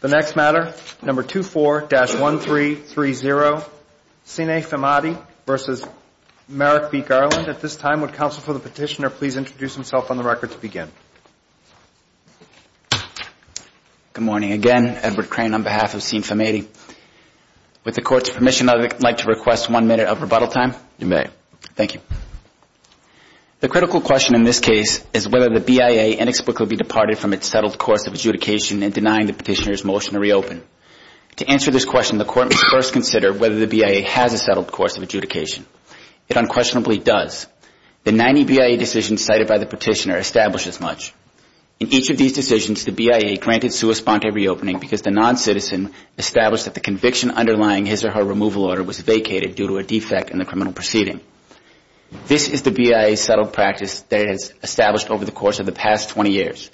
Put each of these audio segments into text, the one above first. The next matter, number 24-1330, Sine Phimmady v. Merrick v. Garland. At this time, would counsel for the petitioner please introduce himself on the record to begin? Good morning. Again, Edward Crane on behalf of Sine Phimmady. With the Court's permission, I would like to request one minute of rebuttal time. You may. Thank you. The critical question in this case is whether the BIA inexplicably departed from its settled course of adjudication in denying the petitioner's motion to reopen. To answer this question, the Court must first consider whether the BIA has a settled course of adjudication. It unquestionably does. The 90 BIA decisions cited by the petitioner establish as much. In each of these decisions, the BIA granted sui sponte reopening because the noncitizen established that the conviction underlying his or her removal order was vacated due to a defect in the criminal proceeding. This is the BIA's settled practice that it has established over the course of the past 20 years.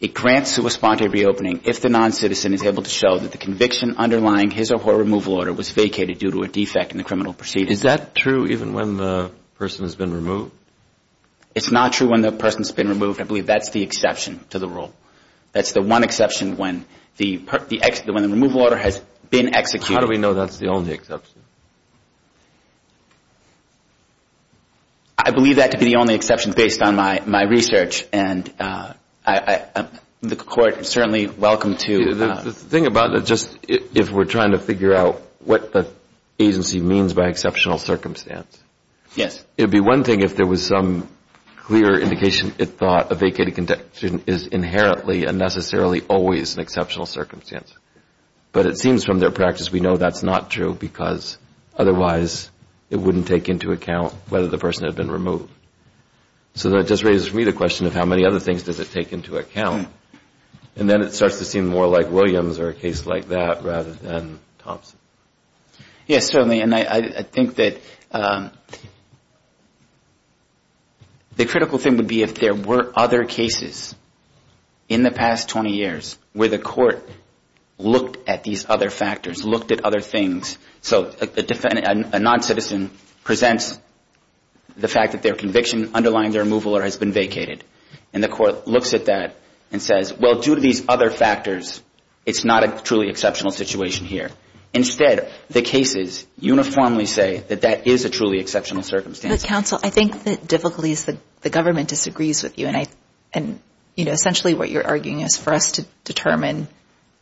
It grants sui sponte reopening if the noncitizen is able to show that the conviction underlying his or her removal order was vacated due to a defect in the criminal proceeding. Is that true even when the person has been removed? It's not true when the person's been removed. I believe that's the exception to the rule. That's the one exception when the removal order has been executed. How do we know that's the only exception? I believe that to be the only exception based on my research, and the Court is certainly welcome to. The thing about just if we're trying to figure out what the agency means by exceptional circumstance. Yes. It would be one thing if there was some clear indication it thought a vacated conviction is inherently and necessarily always an exceptional circumstance. But it seems from their practice we know that's not true because otherwise it wouldn't take into account whether the person had been removed. So that just raises for me the question of how many other things does it take into account? And then it starts to seem more like Williams or a case like that rather than Thompson. Yes, certainly. And I think that the critical thing would be if there were other cases in the past 20 years where the Court looked at these other factors, looked at other things. So a non-citizen presents the fact that their conviction underlying their removal order has been vacated. And the Court looks at that and says, well, due to these other factors, it's not a truly exceptional situation here. Instead, the cases uniformly say that that is a truly exceptional circumstance. But, counsel, I think the difficulty is the government disagrees with you. And, you know, essentially what you're arguing is for us to determine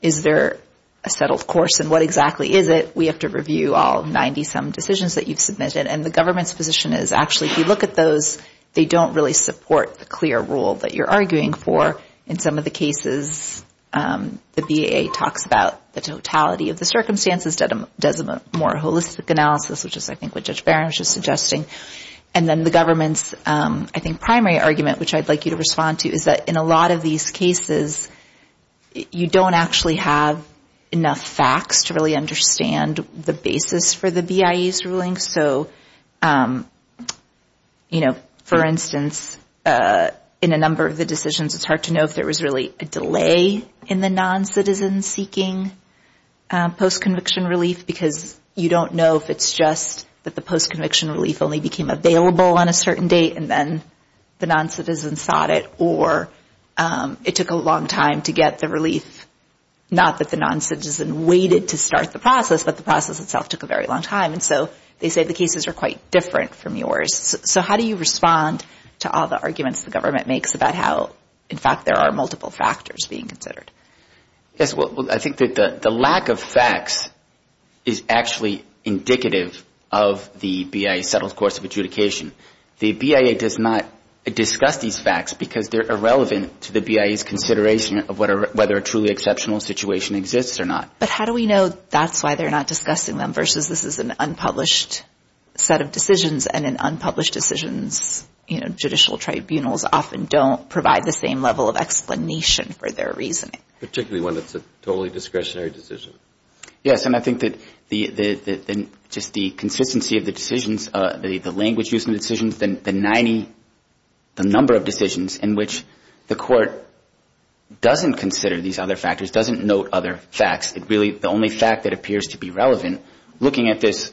is there a settled course and what exactly is it. We have to review all 90-some decisions that you've submitted. And the government's position is actually if you look at those, they don't really support the clear rule that you're arguing for. In some of the cases, the BIA talks about the totality of the circumstances, does a more holistic analysis, which is, I think, what Judge Behrens is suggesting. And then the government's, I think, primary argument, which I'd like you to respond to, is that in a lot of these cases, you don't actually have enough facts to really understand the basis for the BIA's ruling. So, you know, for instance, in a number of the decisions, it's hard to know if there was really a delay in the noncitizen seeking post-conviction relief, because you don't know if it's just that the post-conviction relief only became available on a certain date and then the noncitizen sought it, or it took a long time to get the relief, not that the noncitizen waited to start the process, but the process itself took a very long time. And so they say the cases are quite different from yours. So how do you respond to all the arguments the government makes about how, in fact, there are multiple factors being considered? Yes, well, I think that the lack of facts is actually indicative of the BIA's settled course of adjudication. The BIA does not discuss these facts because they're irrelevant to the BIA's consideration of whether a truly exceptional situation exists or not. But how do we know that's why they're not discussing them versus this is an unpublished set of decisions and in unpublished decisions, you know, judicial tribunals often don't provide the same level of explanation for their reasoning? Particularly when it's a totally discretionary decision. Yes, and I think that just the consistency of the decisions, the language used in the decisions, the number of decisions in which the court doesn't consider these other factors, doesn't note other facts. The only fact that appears to be relevant, looking at this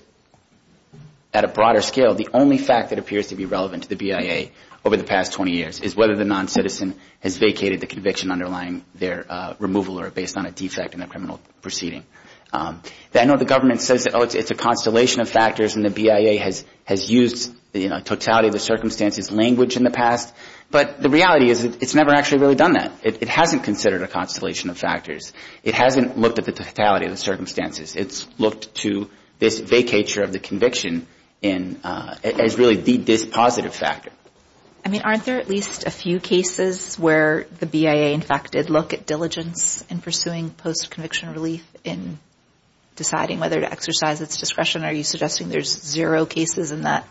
at a broader scale, the only fact that appears to be relevant to the BIA over the past 20 years is whether the noncitizen has vacated the conviction underlying their removal or based on a defect in their criminal proceeding. I know the government says it's a constellation of factors and the BIA has used the totality of the circumstances, language in the past, but the reality is it's never actually really done that. It hasn't considered a constellation of factors. It hasn't looked at the totality of the circumstances. It's looked to this vacature of the conviction as really this positive factor. I mean, aren't there at least a few cases where the BIA, in fact, did look at diligence in pursuing post-conviction relief in deciding whether to exercise its discretion? Are you suggesting there's zero cases in that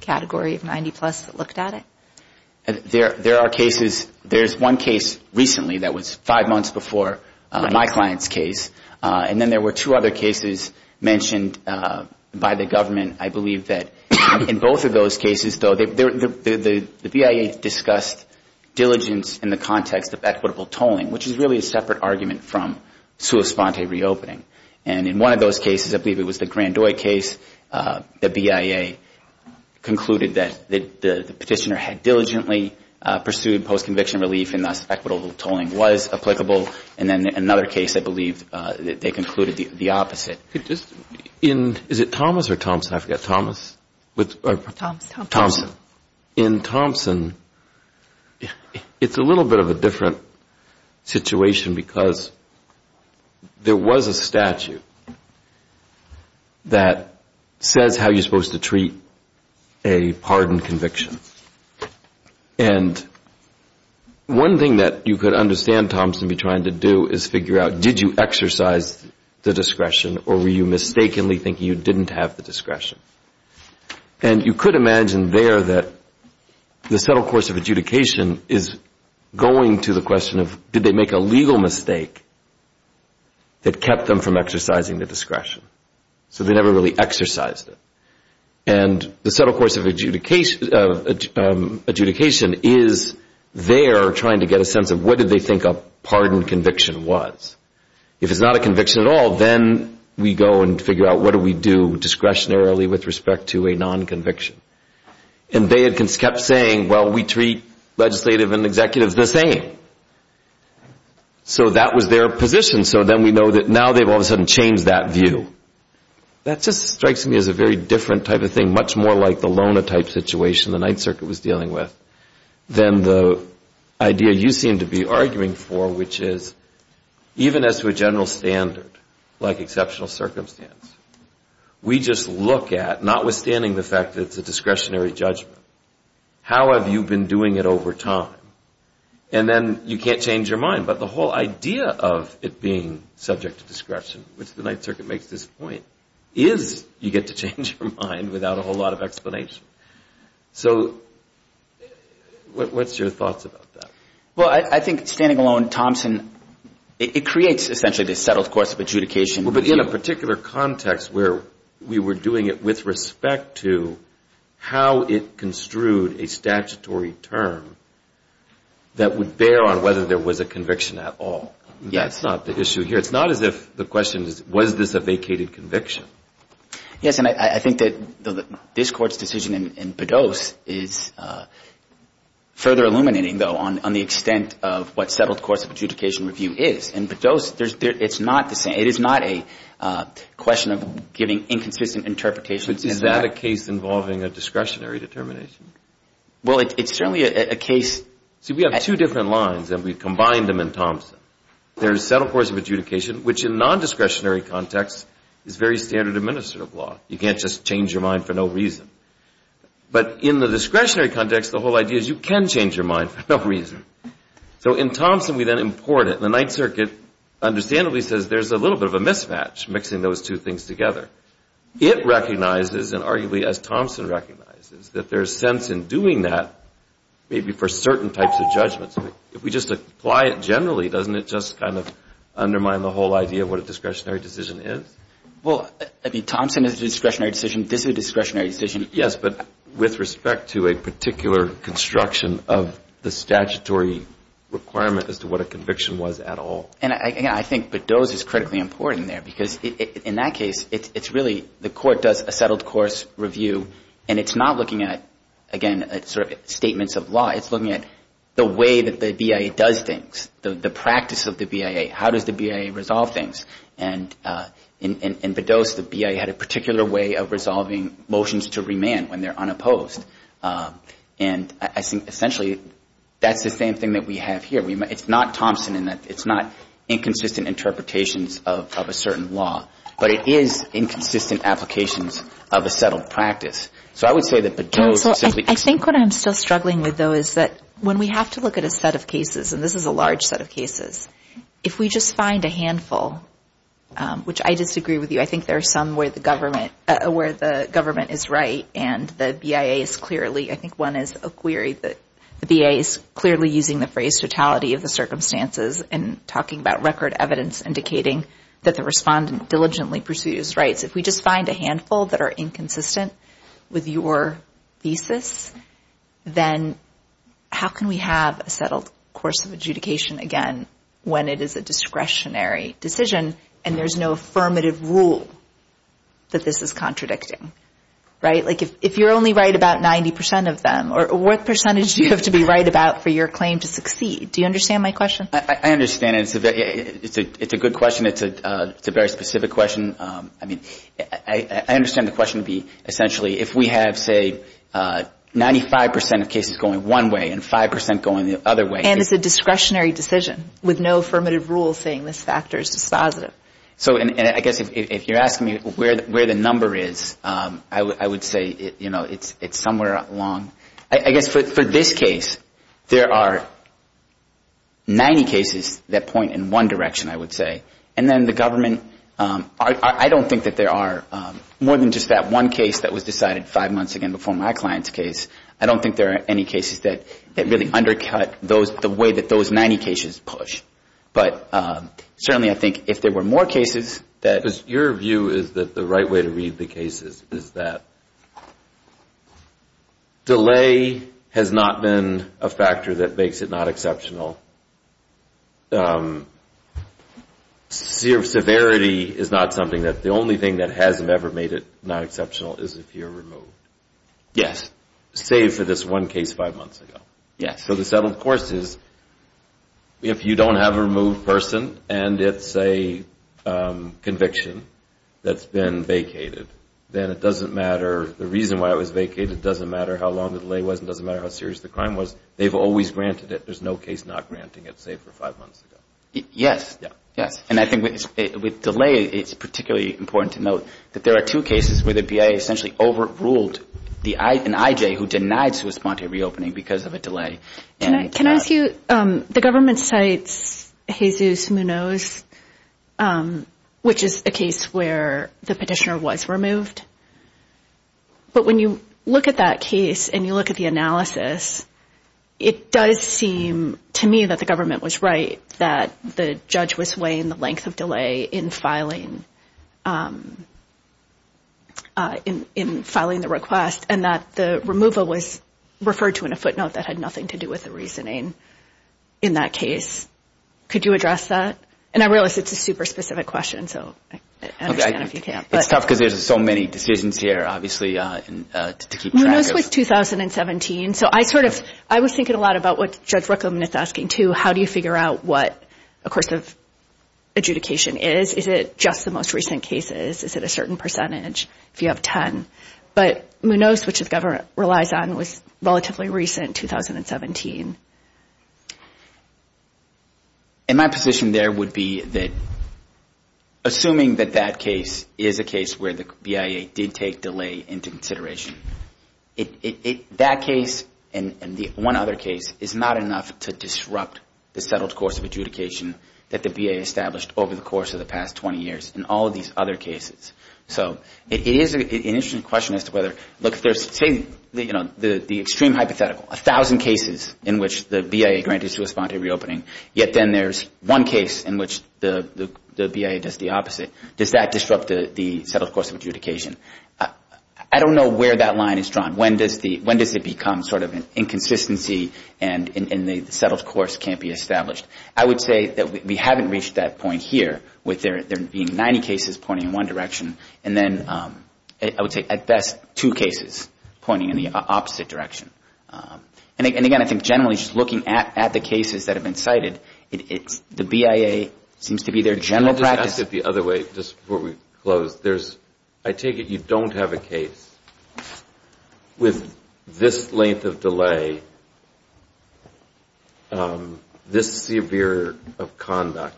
category of 90-plus that looked at it? There are cases. There's one case recently that was five months before my client's case, and then there were two other cases mentioned by the government. I believe that in both of those cases, though, the BIA discussed diligence in the context of equitable tolling, which is really a separate argument from sua sponte reopening. And in one of those cases, I believe it was the Grandoy case, the BIA concluded that the petitioner had diligently pursued post-conviction relief, and thus equitable tolling was applicable. And then another case, I believe, they concluded the opposite. Is it Thomas or Thompson? I forget. Thomas? Thompson. In Thompson, it's a little bit of a different situation, because there was a statute that says how you're supposed to treat a pardon conviction. And one thing that you could understand Thompson be trying to do is figure out, did you exercise the discretion or were you mistakenly thinking you didn't have the discretion? And you could imagine there that the subtle course of adjudication is going to the question of, did they make a legal mistake that kept them from exercising the discretion? So they never really exercised it. And the subtle course of adjudication is there trying to get a sense of, what did they think a pardon conviction was? If it's not a conviction at all, then we go and figure out, what do we do discretionarily with respect to a non-conviction? And they had kept saying, well, we treat legislative and executives the same. So that was their position. So then we know that now they've all of a sudden changed that view. That just strikes me as a very different type of thing, much more like the Lona type situation the Ninth Circuit was dealing with, than the idea you seem to be arguing for, which is, even as to a general standard, like exceptional circumstance, we just look at, notwithstanding the fact that it's a discretionary judgment, how have you been doing it over time? And then you can't change your mind. But the whole idea of it being subject to discretion, which the Ninth Circuit makes this point, is you get to change your mind without a whole lot of explanation. So what's your thoughts about that? Well, I think, standing alone, Thompson, it creates essentially this settled course of adjudication. But in a particular context where we were doing it with respect to how it construed a statutory term that would bear on whether there was a conviction at all. Yes. That's not the issue here. It's not as if the question is, was this a vacated conviction? Yes. And I think that this Court's decision in Bedos is further illuminating, though, on the extent of what settled course of adjudication review is. In Bedos, it's not the same. It is not a question of giving inconsistent interpretations. Is that a case involving a discretionary determination? Well, it's certainly a case. See, we have two different lines, and we combined them in Thompson. There's settled course of adjudication, which in a non-discretionary context is very standard administrative law. You can't just change your mind for no reason. But in the discretionary context, the whole idea is you can change your mind for no reason. So in Thompson, we then import it. The Ninth Circuit understandably says there's a little bit of a mismatch mixing those two things together. It recognizes, and arguably as Thompson recognizes, that there's sense in doing that, maybe for certain types of judgments. If we just apply it generally, doesn't it just kind of undermine the whole idea of what a discretionary decision is? Well, I mean, Thompson is a discretionary decision. This is a discretionary decision. Yes, but with respect to a particular construction of the statutory requirement as to what a conviction was at all. And, again, I think Bedos is critically important there because in that case it's really the Court does a settled course review, and it's not looking at, again, sort of statements of law. It's looking at the way that the BIA does things, the practice of the BIA. How does the BIA resolve things? And in Bedos, the BIA had a particular way of resolving motions to remand when they're unopposed. And I think essentially that's the same thing that we have here. It's not Thompson in that it's not inconsistent interpretations of a certain law, but it is inconsistent applications of a settled practice. So I would say that Bedos simply – I think what I'm still struggling with, though, is that when we have to look at a set of cases, and this is a large set of cases, if we just find a handful, which I disagree with you. I think there are some where the government is right and the BIA is clearly – I think one is a query that the BIA is clearly using the phrase totality of the circumstances and talking about record evidence indicating that the respondent diligently pursues rights. If we just find a handful that are inconsistent with your thesis, then how can we have a settled course of adjudication again when it is a discretionary decision and there's no affirmative rule that this is contradicting, right? Like if you're only right about 90 percent of them, what percentage do you have to be right about for your claim to succeed? Do you understand my question? I understand it. It's a good question. It's a very specific question. I mean, I understand the question to be essentially if we have, say, 95 percent of cases going one way and 5 percent going the other way. And it's a discretionary decision with no affirmative rule saying this factor is dispositive. So I guess if you're asking me where the number is, I would say it's somewhere along. I guess for this case, there are 90 cases that point in one direction, I would say, and then the government – I don't think that there are more than just that one case that was decided five months again before my client's case. I don't think there are any cases that really undercut the way that those 90 cases push. But certainly I think if there were more cases that – Because your view is that the right way to read the cases is that delay has not been a factor that makes it not exceptional. Severity is not something that – the only thing that hasn't ever made it not exceptional is if you're removed. Yes. Save for this one case five months ago. Yes. So the settled course is if you don't have a removed person and it's a conviction that's been vacated, then it doesn't matter – the reason why it was vacated doesn't matter how long the delay was and doesn't matter how serious the crime was. They've always granted it. There's no case not granting it, say, for five months ago. Yes. Yes. And I think with delay, it's particularly important to note that there are two cases where the BIA essentially overruled an IJ who denied sui sponte reopening because of a delay. Can I ask you – the government cites Jesus Munoz, which is a case where the petitioner was removed. But when you look at that case and you look at the analysis, it does seem to me that the government was right, that the judge was weighing the length of delay in filing the request and that the removal was referred to in a footnote that had nothing to do with the reasoning in that case. Could you address that? And I realize it's a super specific question, so I understand if you can't. It's tough because there's so many decisions here, obviously, to keep track of. Munoz was 2017. So I sort of – I was thinking a lot about what Judge Ruckelman is asking, too. How do you figure out what a course of adjudication is? Is it just the most recent cases? Is it a certain percentage if you have 10? But Munoz, which the government relies on, was relatively recent, 2017. And my position there would be that assuming that that case is a case where the BIA did take delay into consideration, that case and the one other case is not enough to disrupt the settled course of adjudication that the BIA established over the course of the past 20 years in all of these other cases. So it is an interesting question as to whether – look, there's – say the extreme hypothetical, 1,000 cases in which the BIA granted sui sponte reopening, yet then there's one case in which the BIA does the opposite. Does that disrupt the settled course of adjudication? I don't know where that line is drawn. When does it become sort of an inconsistency and the settled course can't be established? I would say that we haven't reached that point here with there being 90 cases pointing in one direction, and then I would say at best two cases pointing in the opposite direction. And again, I think generally just looking at the cases that have been cited, the BIA seems to be their general practice. I'll just ask it the other way just before we close. I take it you don't have a case with this length of delay, this severe of conduct,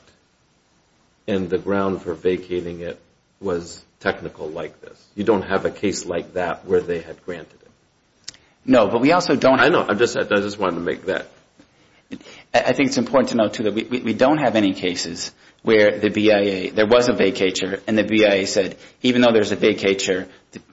and the ground for vacating it was technical like this. You don't have a case like that where they had granted it. No, but we also don't have – I know. I just wanted to make that. I think it's important to note, too, that we don't have any cases where the BIA – there was a vacatur, and the BIA said even though there's a vacatur,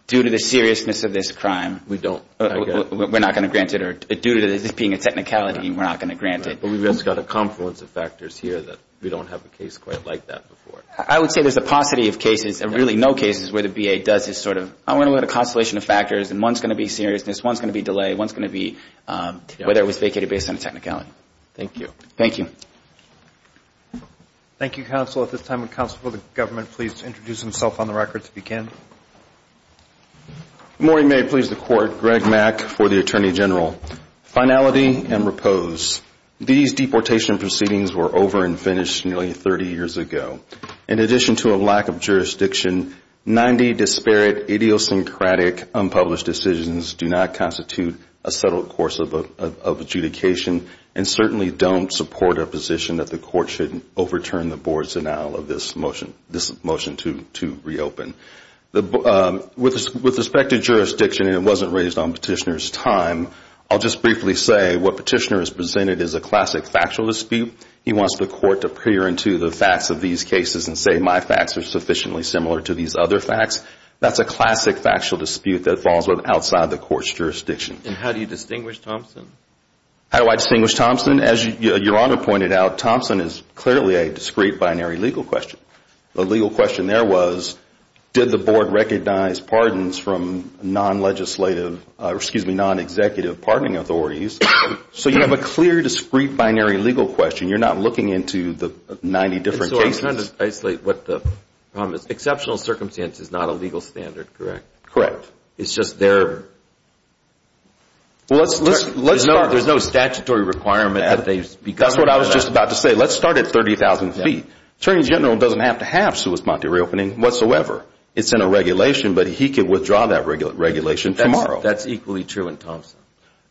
due to the seriousness of this crime – We don't. We're not going to grant it, or due to this being a technicality, we're not going to grant it. But we've just got a confluence of factors here that we don't have a case quite like that before. I would say there's a paucity of cases, and really no cases, where the BIA does this sort of, I want to look at a constellation of factors, and one's going to be seriousness, one's going to be delay, one's going to be whether it was vacated based on technicality. Thank you. Thank you. Thank you, counsel. At this time, would counsel for the government please introduce himself on the record to begin? Good morning. May it please the Court. Greg Mack for the Attorney General. Finality and repose. These deportation proceedings were over and finished nearly 30 years ago. In addition to a lack of jurisdiction, 90 disparate, idiosyncratic, unpublished decisions do not constitute a settled course of adjudication, and certainly don't support our position that the Court should overturn the Board's annulment of this motion to reopen. With respect to jurisdiction, and it wasn't raised on Petitioner's time, I'll just briefly say what Petitioner has presented is a classic factual dispute. He wants the Court to peer into the facts of these cases and say my facts are sufficiently similar to these other facts. That's a classic factual dispute that falls outside the Court's jurisdiction. And how do you distinguish Thompson? How do I distinguish Thompson? Well, Thompson, as your Honor pointed out, Thompson is clearly a discrete binary legal question. The legal question there was did the Board recognize pardons from non-legislative, excuse me, non-executive pardoning authorities? So you have a clear discrete binary legal question. You're not looking into the 90 different cases. So I'm trying to isolate what the problem is. Exceptional circumstance is not a legal standard, correct? Correct. It's just there. Well, let's start. There's no statutory requirement that they be covered by that. That's what I was just about to say. Let's start at 30,000 feet. Attorney General doesn't have to have sui sponte reopening whatsoever. It's in a regulation, but he could withdraw that regulation tomorrow. That's equally true in Thompson.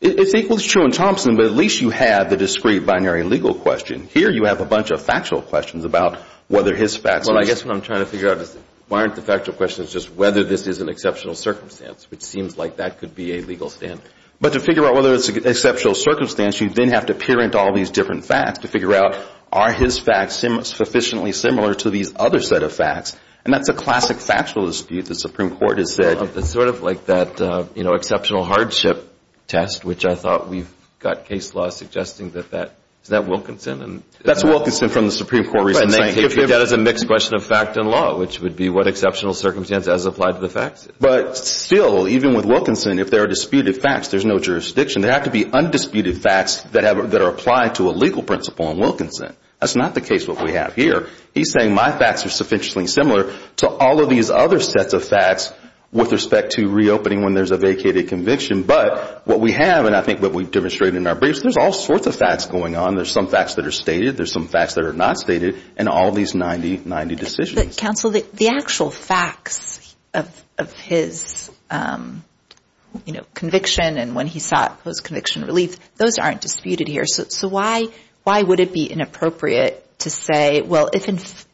It's equally true in Thompson, but at least you have the discrete binary legal question. Here you have a bunch of factual questions about whether his facts are the same. Well, I guess what I'm trying to figure out is why aren't the factual questions just whether this is an exceptional circumstance, which seems like that could be a legal standard. But to figure out whether it's an exceptional circumstance, you then have to parent all these different facts to figure out are his facts sufficiently similar to these other set of facts, and that's a classic factual dispute the Supreme Court has said. It's sort of like that, you know, exceptional hardship test, which I thought we've got case law suggesting that that is that Wilkinson. That's Wilkinson from the Supreme Court. That is a mixed question of fact and law, which would be what exceptional circumstance as applied to the facts. But still, even with Wilkinson, if there are disputed facts, there's no jurisdiction. There have to be undisputed facts that are applied to a legal principle in Wilkinson. That's not the case what we have here. He's saying my facts are sufficiently similar to all of these other sets of facts with respect to reopening when there's a vacated conviction. But what we have, and I think what we've demonstrated in our briefs, there's all sorts of facts going on. There's some facts that are stated. There's some facts that are not stated in all these 90-90 decisions. But, counsel, the actual facts of his, you know, conviction and when he sought post-conviction relief, those aren't disputed here. So why would it be inappropriate to say, well, if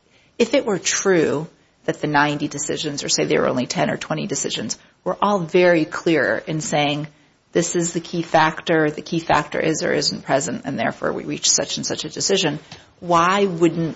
it were true that the 90 decisions or say there were only 10 or 20 decisions were all very clear in saying this is the key factor, the key factor is or isn't present, and therefore we reach such and such a decision, why would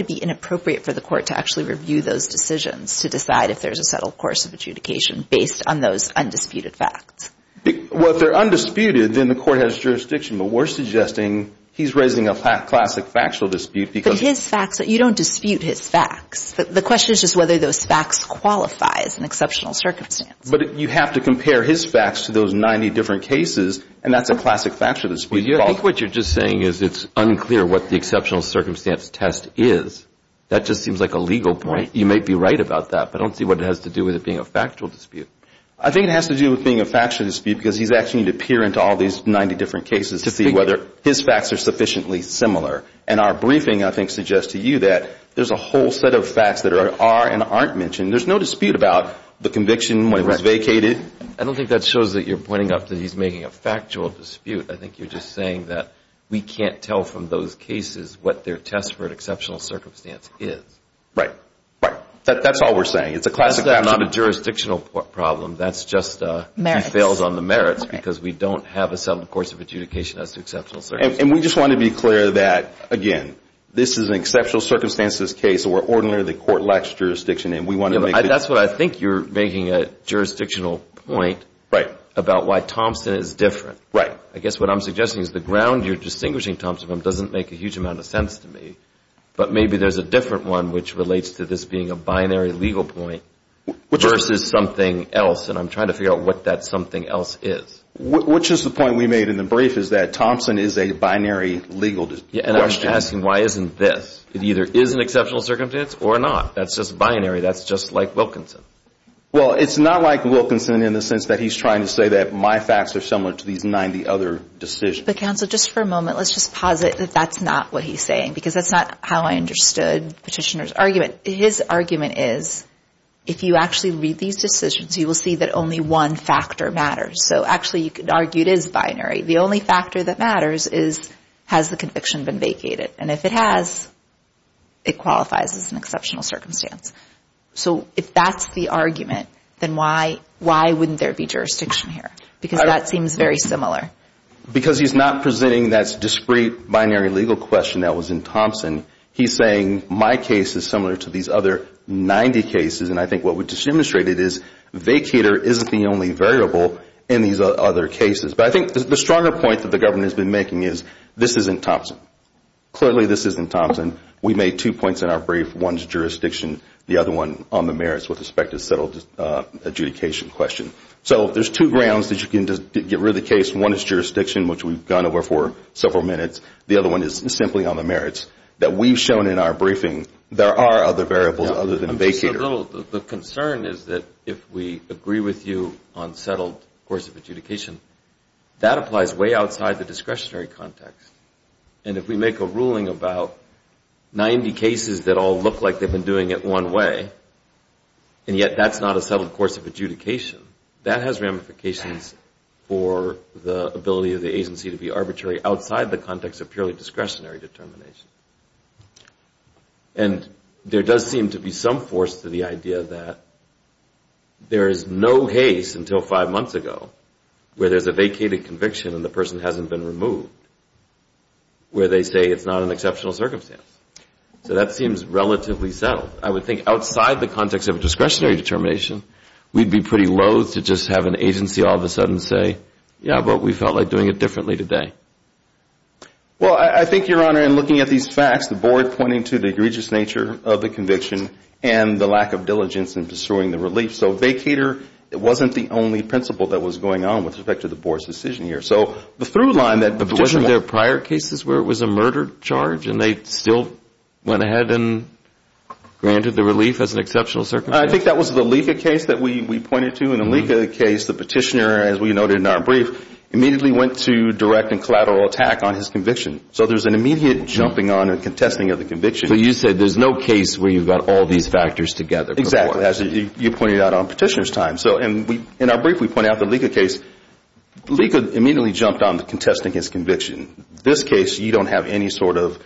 it be inappropriate for the court to actually review those decisions to decide if there's a settled course of adjudication based on those undisputed facts? Well, if they're undisputed, then the court has jurisdiction. But we're suggesting he's raising a classic factual dispute because But his facts, you don't dispute his facts. The question is just whether those facts qualify as an exceptional circumstance. But you have to compare his facts to those 90 different cases, and that's a classic factual dispute. I think what you're just saying is it's unclear what the exceptional circumstance test is. That just seems like a legal point. You might be right about that, but I don't see what it has to do with it being a factual dispute. I think it has to do with being a factual dispute because he's asking you to peer into all these 90 different cases to see whether his facts are sufficiently similar. And our briefing, I think, suggests to you that there's a whole set of facts that are and aren't mentioned. There's no dispute about the conviction when it was vacated. I don't think that shows that you're pointing out that he's making a factual dispute. I think you're just saying that we can't tell from those cases what their test for an exceptional circumstance is. Right, right. That's all we're saying. It's a classic factual dispute. That's not a jurisdictional problem. That's just he fails on the merits because we don't have a settled course of adjudication as to exceptional circumstances. And we just want to be clear that, again, this is an exceptional circumstances case where ordinarily the court lacks jurisdiction. That's what I think you're making, a jurisdictional point about why Thompson is different. Right. I guess what I'm suggesting is the ground you're distinguishing Thompson from doesn't make a huge amount of sense to me. But maybe there's a different one which relates to this being a binary legal point versus something else. And I'm trying to figure out what that something else is. Which is the point we made in the brief, is that Thompson is a binary legal question. And I'm just asking, why isn't this? It either is an exceptional circumstance or not. That's just binary. That's just like Wilkinson. Well, it's not like Wilkinson in the sense that he's trying to say that my facts are similar to these 90 other decisions. But, counsel, just for a moment, let's just posit that that's not what he's saying. Because that's not how I understood Petitioner's argument. His argument is if you actually read these decisions, you will see that only one factor matters. So, actually, you could argue it is binary. The only factor that matters is has the conviction been vacated. And if it has, it qualifies as an exceptional circumstance. So, if that's the argument, then why wouldn't there be jurisdiction here? Because that seems very similar. Because he's not presenting that discrete binary legal question that was in Thompson. He's saying my case is similar to these other 90 cases. And I think what we just demonstrated is vacater isn't the only variable in these other cases. But I think the stronger point that the government has been making is this isn't Thompson. Clearly, this isn't Thompson. We made two points in our brief. One is jurisdiction. The other one on the merits with respect to settled adjudication question. So, there's two grounds that you can get rid of the case. One is jurisdiction, which we've gone over for several minutes. The other one is simply on the merits. That we've shown in our briefing there are other variables other than vacater. The concern is that if we agree with you on settled course of adjudication, that applies way outside the discretionary context. And if we make a ruling about 90 cases that all look like they've been doing it one way, and yet that's not a settled course of adjudication, that has ramifications for the ability of the agency to be arbitrary outside the context of purely discretionary determination. And there does seem to be some force to the idea that there is no case until five months ago where there's a vacated conviction and the person hasn't been removed, where they say it's not an exceptional circumstance. So, that seems relatively settled. I would think outside the context of discretionary determination, we'd be pretty loath to just have an agency all of a sudden say, yeah, but we felt like doing it differently today. Well, I think, Your Honor, in looking at these facts, the board pointing to the egregious nature of the conviction and the lack of diligence in pursuing the relief. So, vacater wasn't the only principle that was going on with respect to the board's decision here. So, the through line that the petitioner... But wasn't there prior cases where it was a murder charge and they still went ahead and granted the relief as an exceptional circumstance? I think that was the Lika case that we pointed to. In the Lika case, the petitioner, as we noted in our brief, immediately went to direct and collateral attack on his conviction. So, there's an immediate jumping on and contesting of the conviction. So, you said there's no case where you've got all these factors together. Exactly, as you pointed out on petitioner's time. So, in our brief, we point out the Lika case, Lika immediately jumped on the contesting his conviction. This case, you don't have any sort of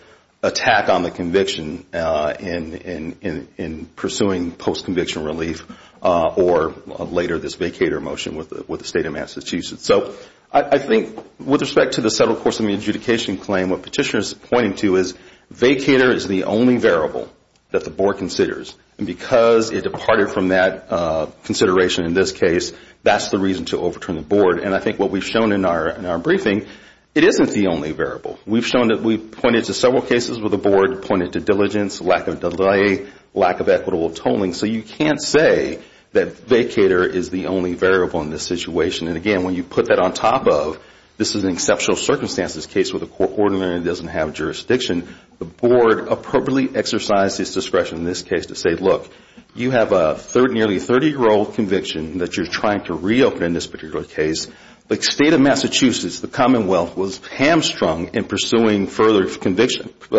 attack on the conviction in pursuing post-conviction relief or later this vacater motion with the State of Massachusetts. So, I think with respect to the settled course of the adjudication claim, what petitioner's pointing to is vacater is the only variable that the board considers. And because it departed from that consideration in this case, that's the reason to overturn the board. And I think what we've shown in our briefing, it isn't the only variable. We've pointed to several cases where the board pointed to diligence, lack of delay, lack of equitable tolling. So, you can't say that vacater is the only variable in this situation. And again, when you put that on top of this is an exceptional circumstance, this case with a court ordiner that doesn't have jurisdiction, the board appropriately exercised its discretion in this case to say, look, you have a nearly 30-year-old conviction that you're trying to reopen in this particular case. The State of Massachusetts, the Commonwealth, was hamstrung in pursuing further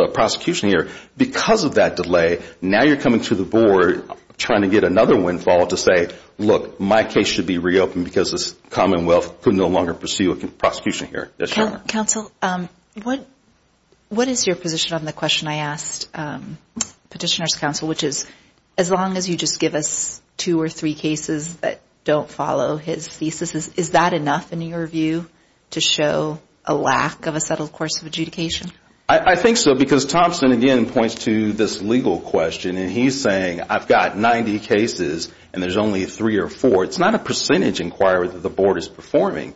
prosecution here. Because of that delay, now you're coming to the board trying to get another windfall to say, look, my case should be reopened because the Commonwealth could no longer pursue a prosecution here. Counsel, what is your position on the question I asked Petitioner's Counsel, which is as long as you just give us two or three cases that don't follow his thesis, is that enough in your view to show a lack of a settled course of adjudication? I think so, because Thompson again points to this legal question, and he's saying I've got 90 cases and there's only three or four. It's not a percentage inquiry that the board is performing.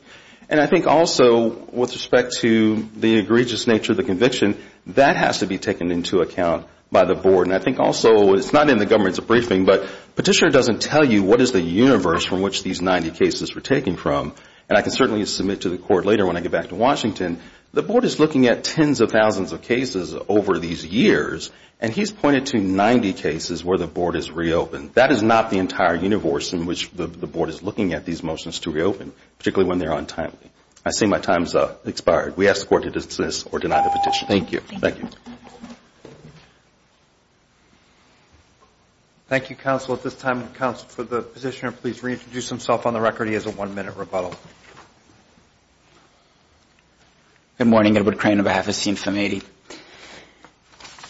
And I think also with respect to the egregious nature of the conviction, that has to be taken into account by the board. And I think also it's not in the government's briefing, but Petitioner doesn't tell you what is the universe from which these 90 cases were taken from. And I can certainly submit to the court later when I get back to Washington, the board is looking at tens of thousands of cases over these years, and he's pointed to 90 cases where the board has reopened. That is not the entire universe in which the board is looking at these motions to reopen, particularly when they're untimely. I see my time's expired. We ask the court to dismiss or deny the petition. Thank you. Thank you. Thank you, counsel, at this time. Counsel, for the Petitioner, please reintroduce himself on the record. He has a one-minute rebuttal. Good morning. Edward Crane on behalf of CINFM 80.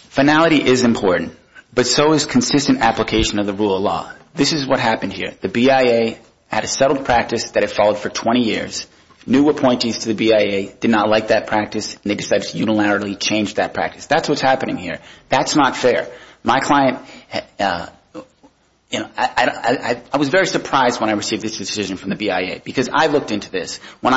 Finality is important, but so is consistent application of the rule of law. This is what happened here. The BIA had a settled practice that it followed for 20 years. New appointees to the BIA did not like that practice, and they decided to unilaterally change that practice. That's what's happening here. That's not fair. My client, you know, I was very surprised when I received this decision from the BIA, because I looked into this. When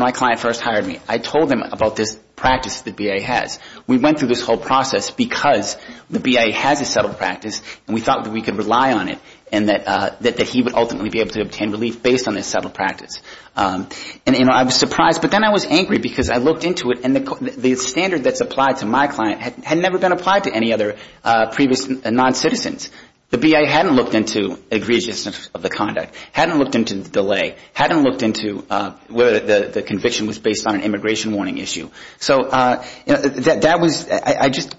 my client first hired me, I told him about this practice the BIA has. We went through this whole process because the BIA has a settled practice, and we thought that we could rely on it, and that he would ultimately be able to obtain relief based on this settled practice. And, you know, I was surprised, but then I was angry because I looked into it, and the standard that's applied to my client had never been applied to any other previous noncitizens. The BIA hadn't looked into egregiousness of the conduct, hadn't looked into the delay, hadn't looked into whether the conviction was based on an immigration warning issue. So that was ‑‑ I just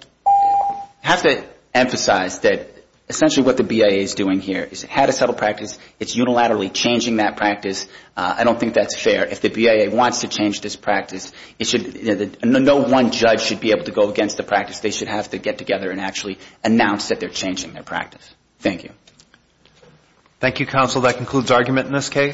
have to emphasize that essentially what the BIA is doing here is it had a settled practice. It's unilaterally changing that practice. I don't think that's fair. If the BIA wants to change this practice, no one judge should be able to go against the practice. They should have to get together and actually announce that they're changing their practice. Thank you. Thank you, counsel. That concludes argument in this case.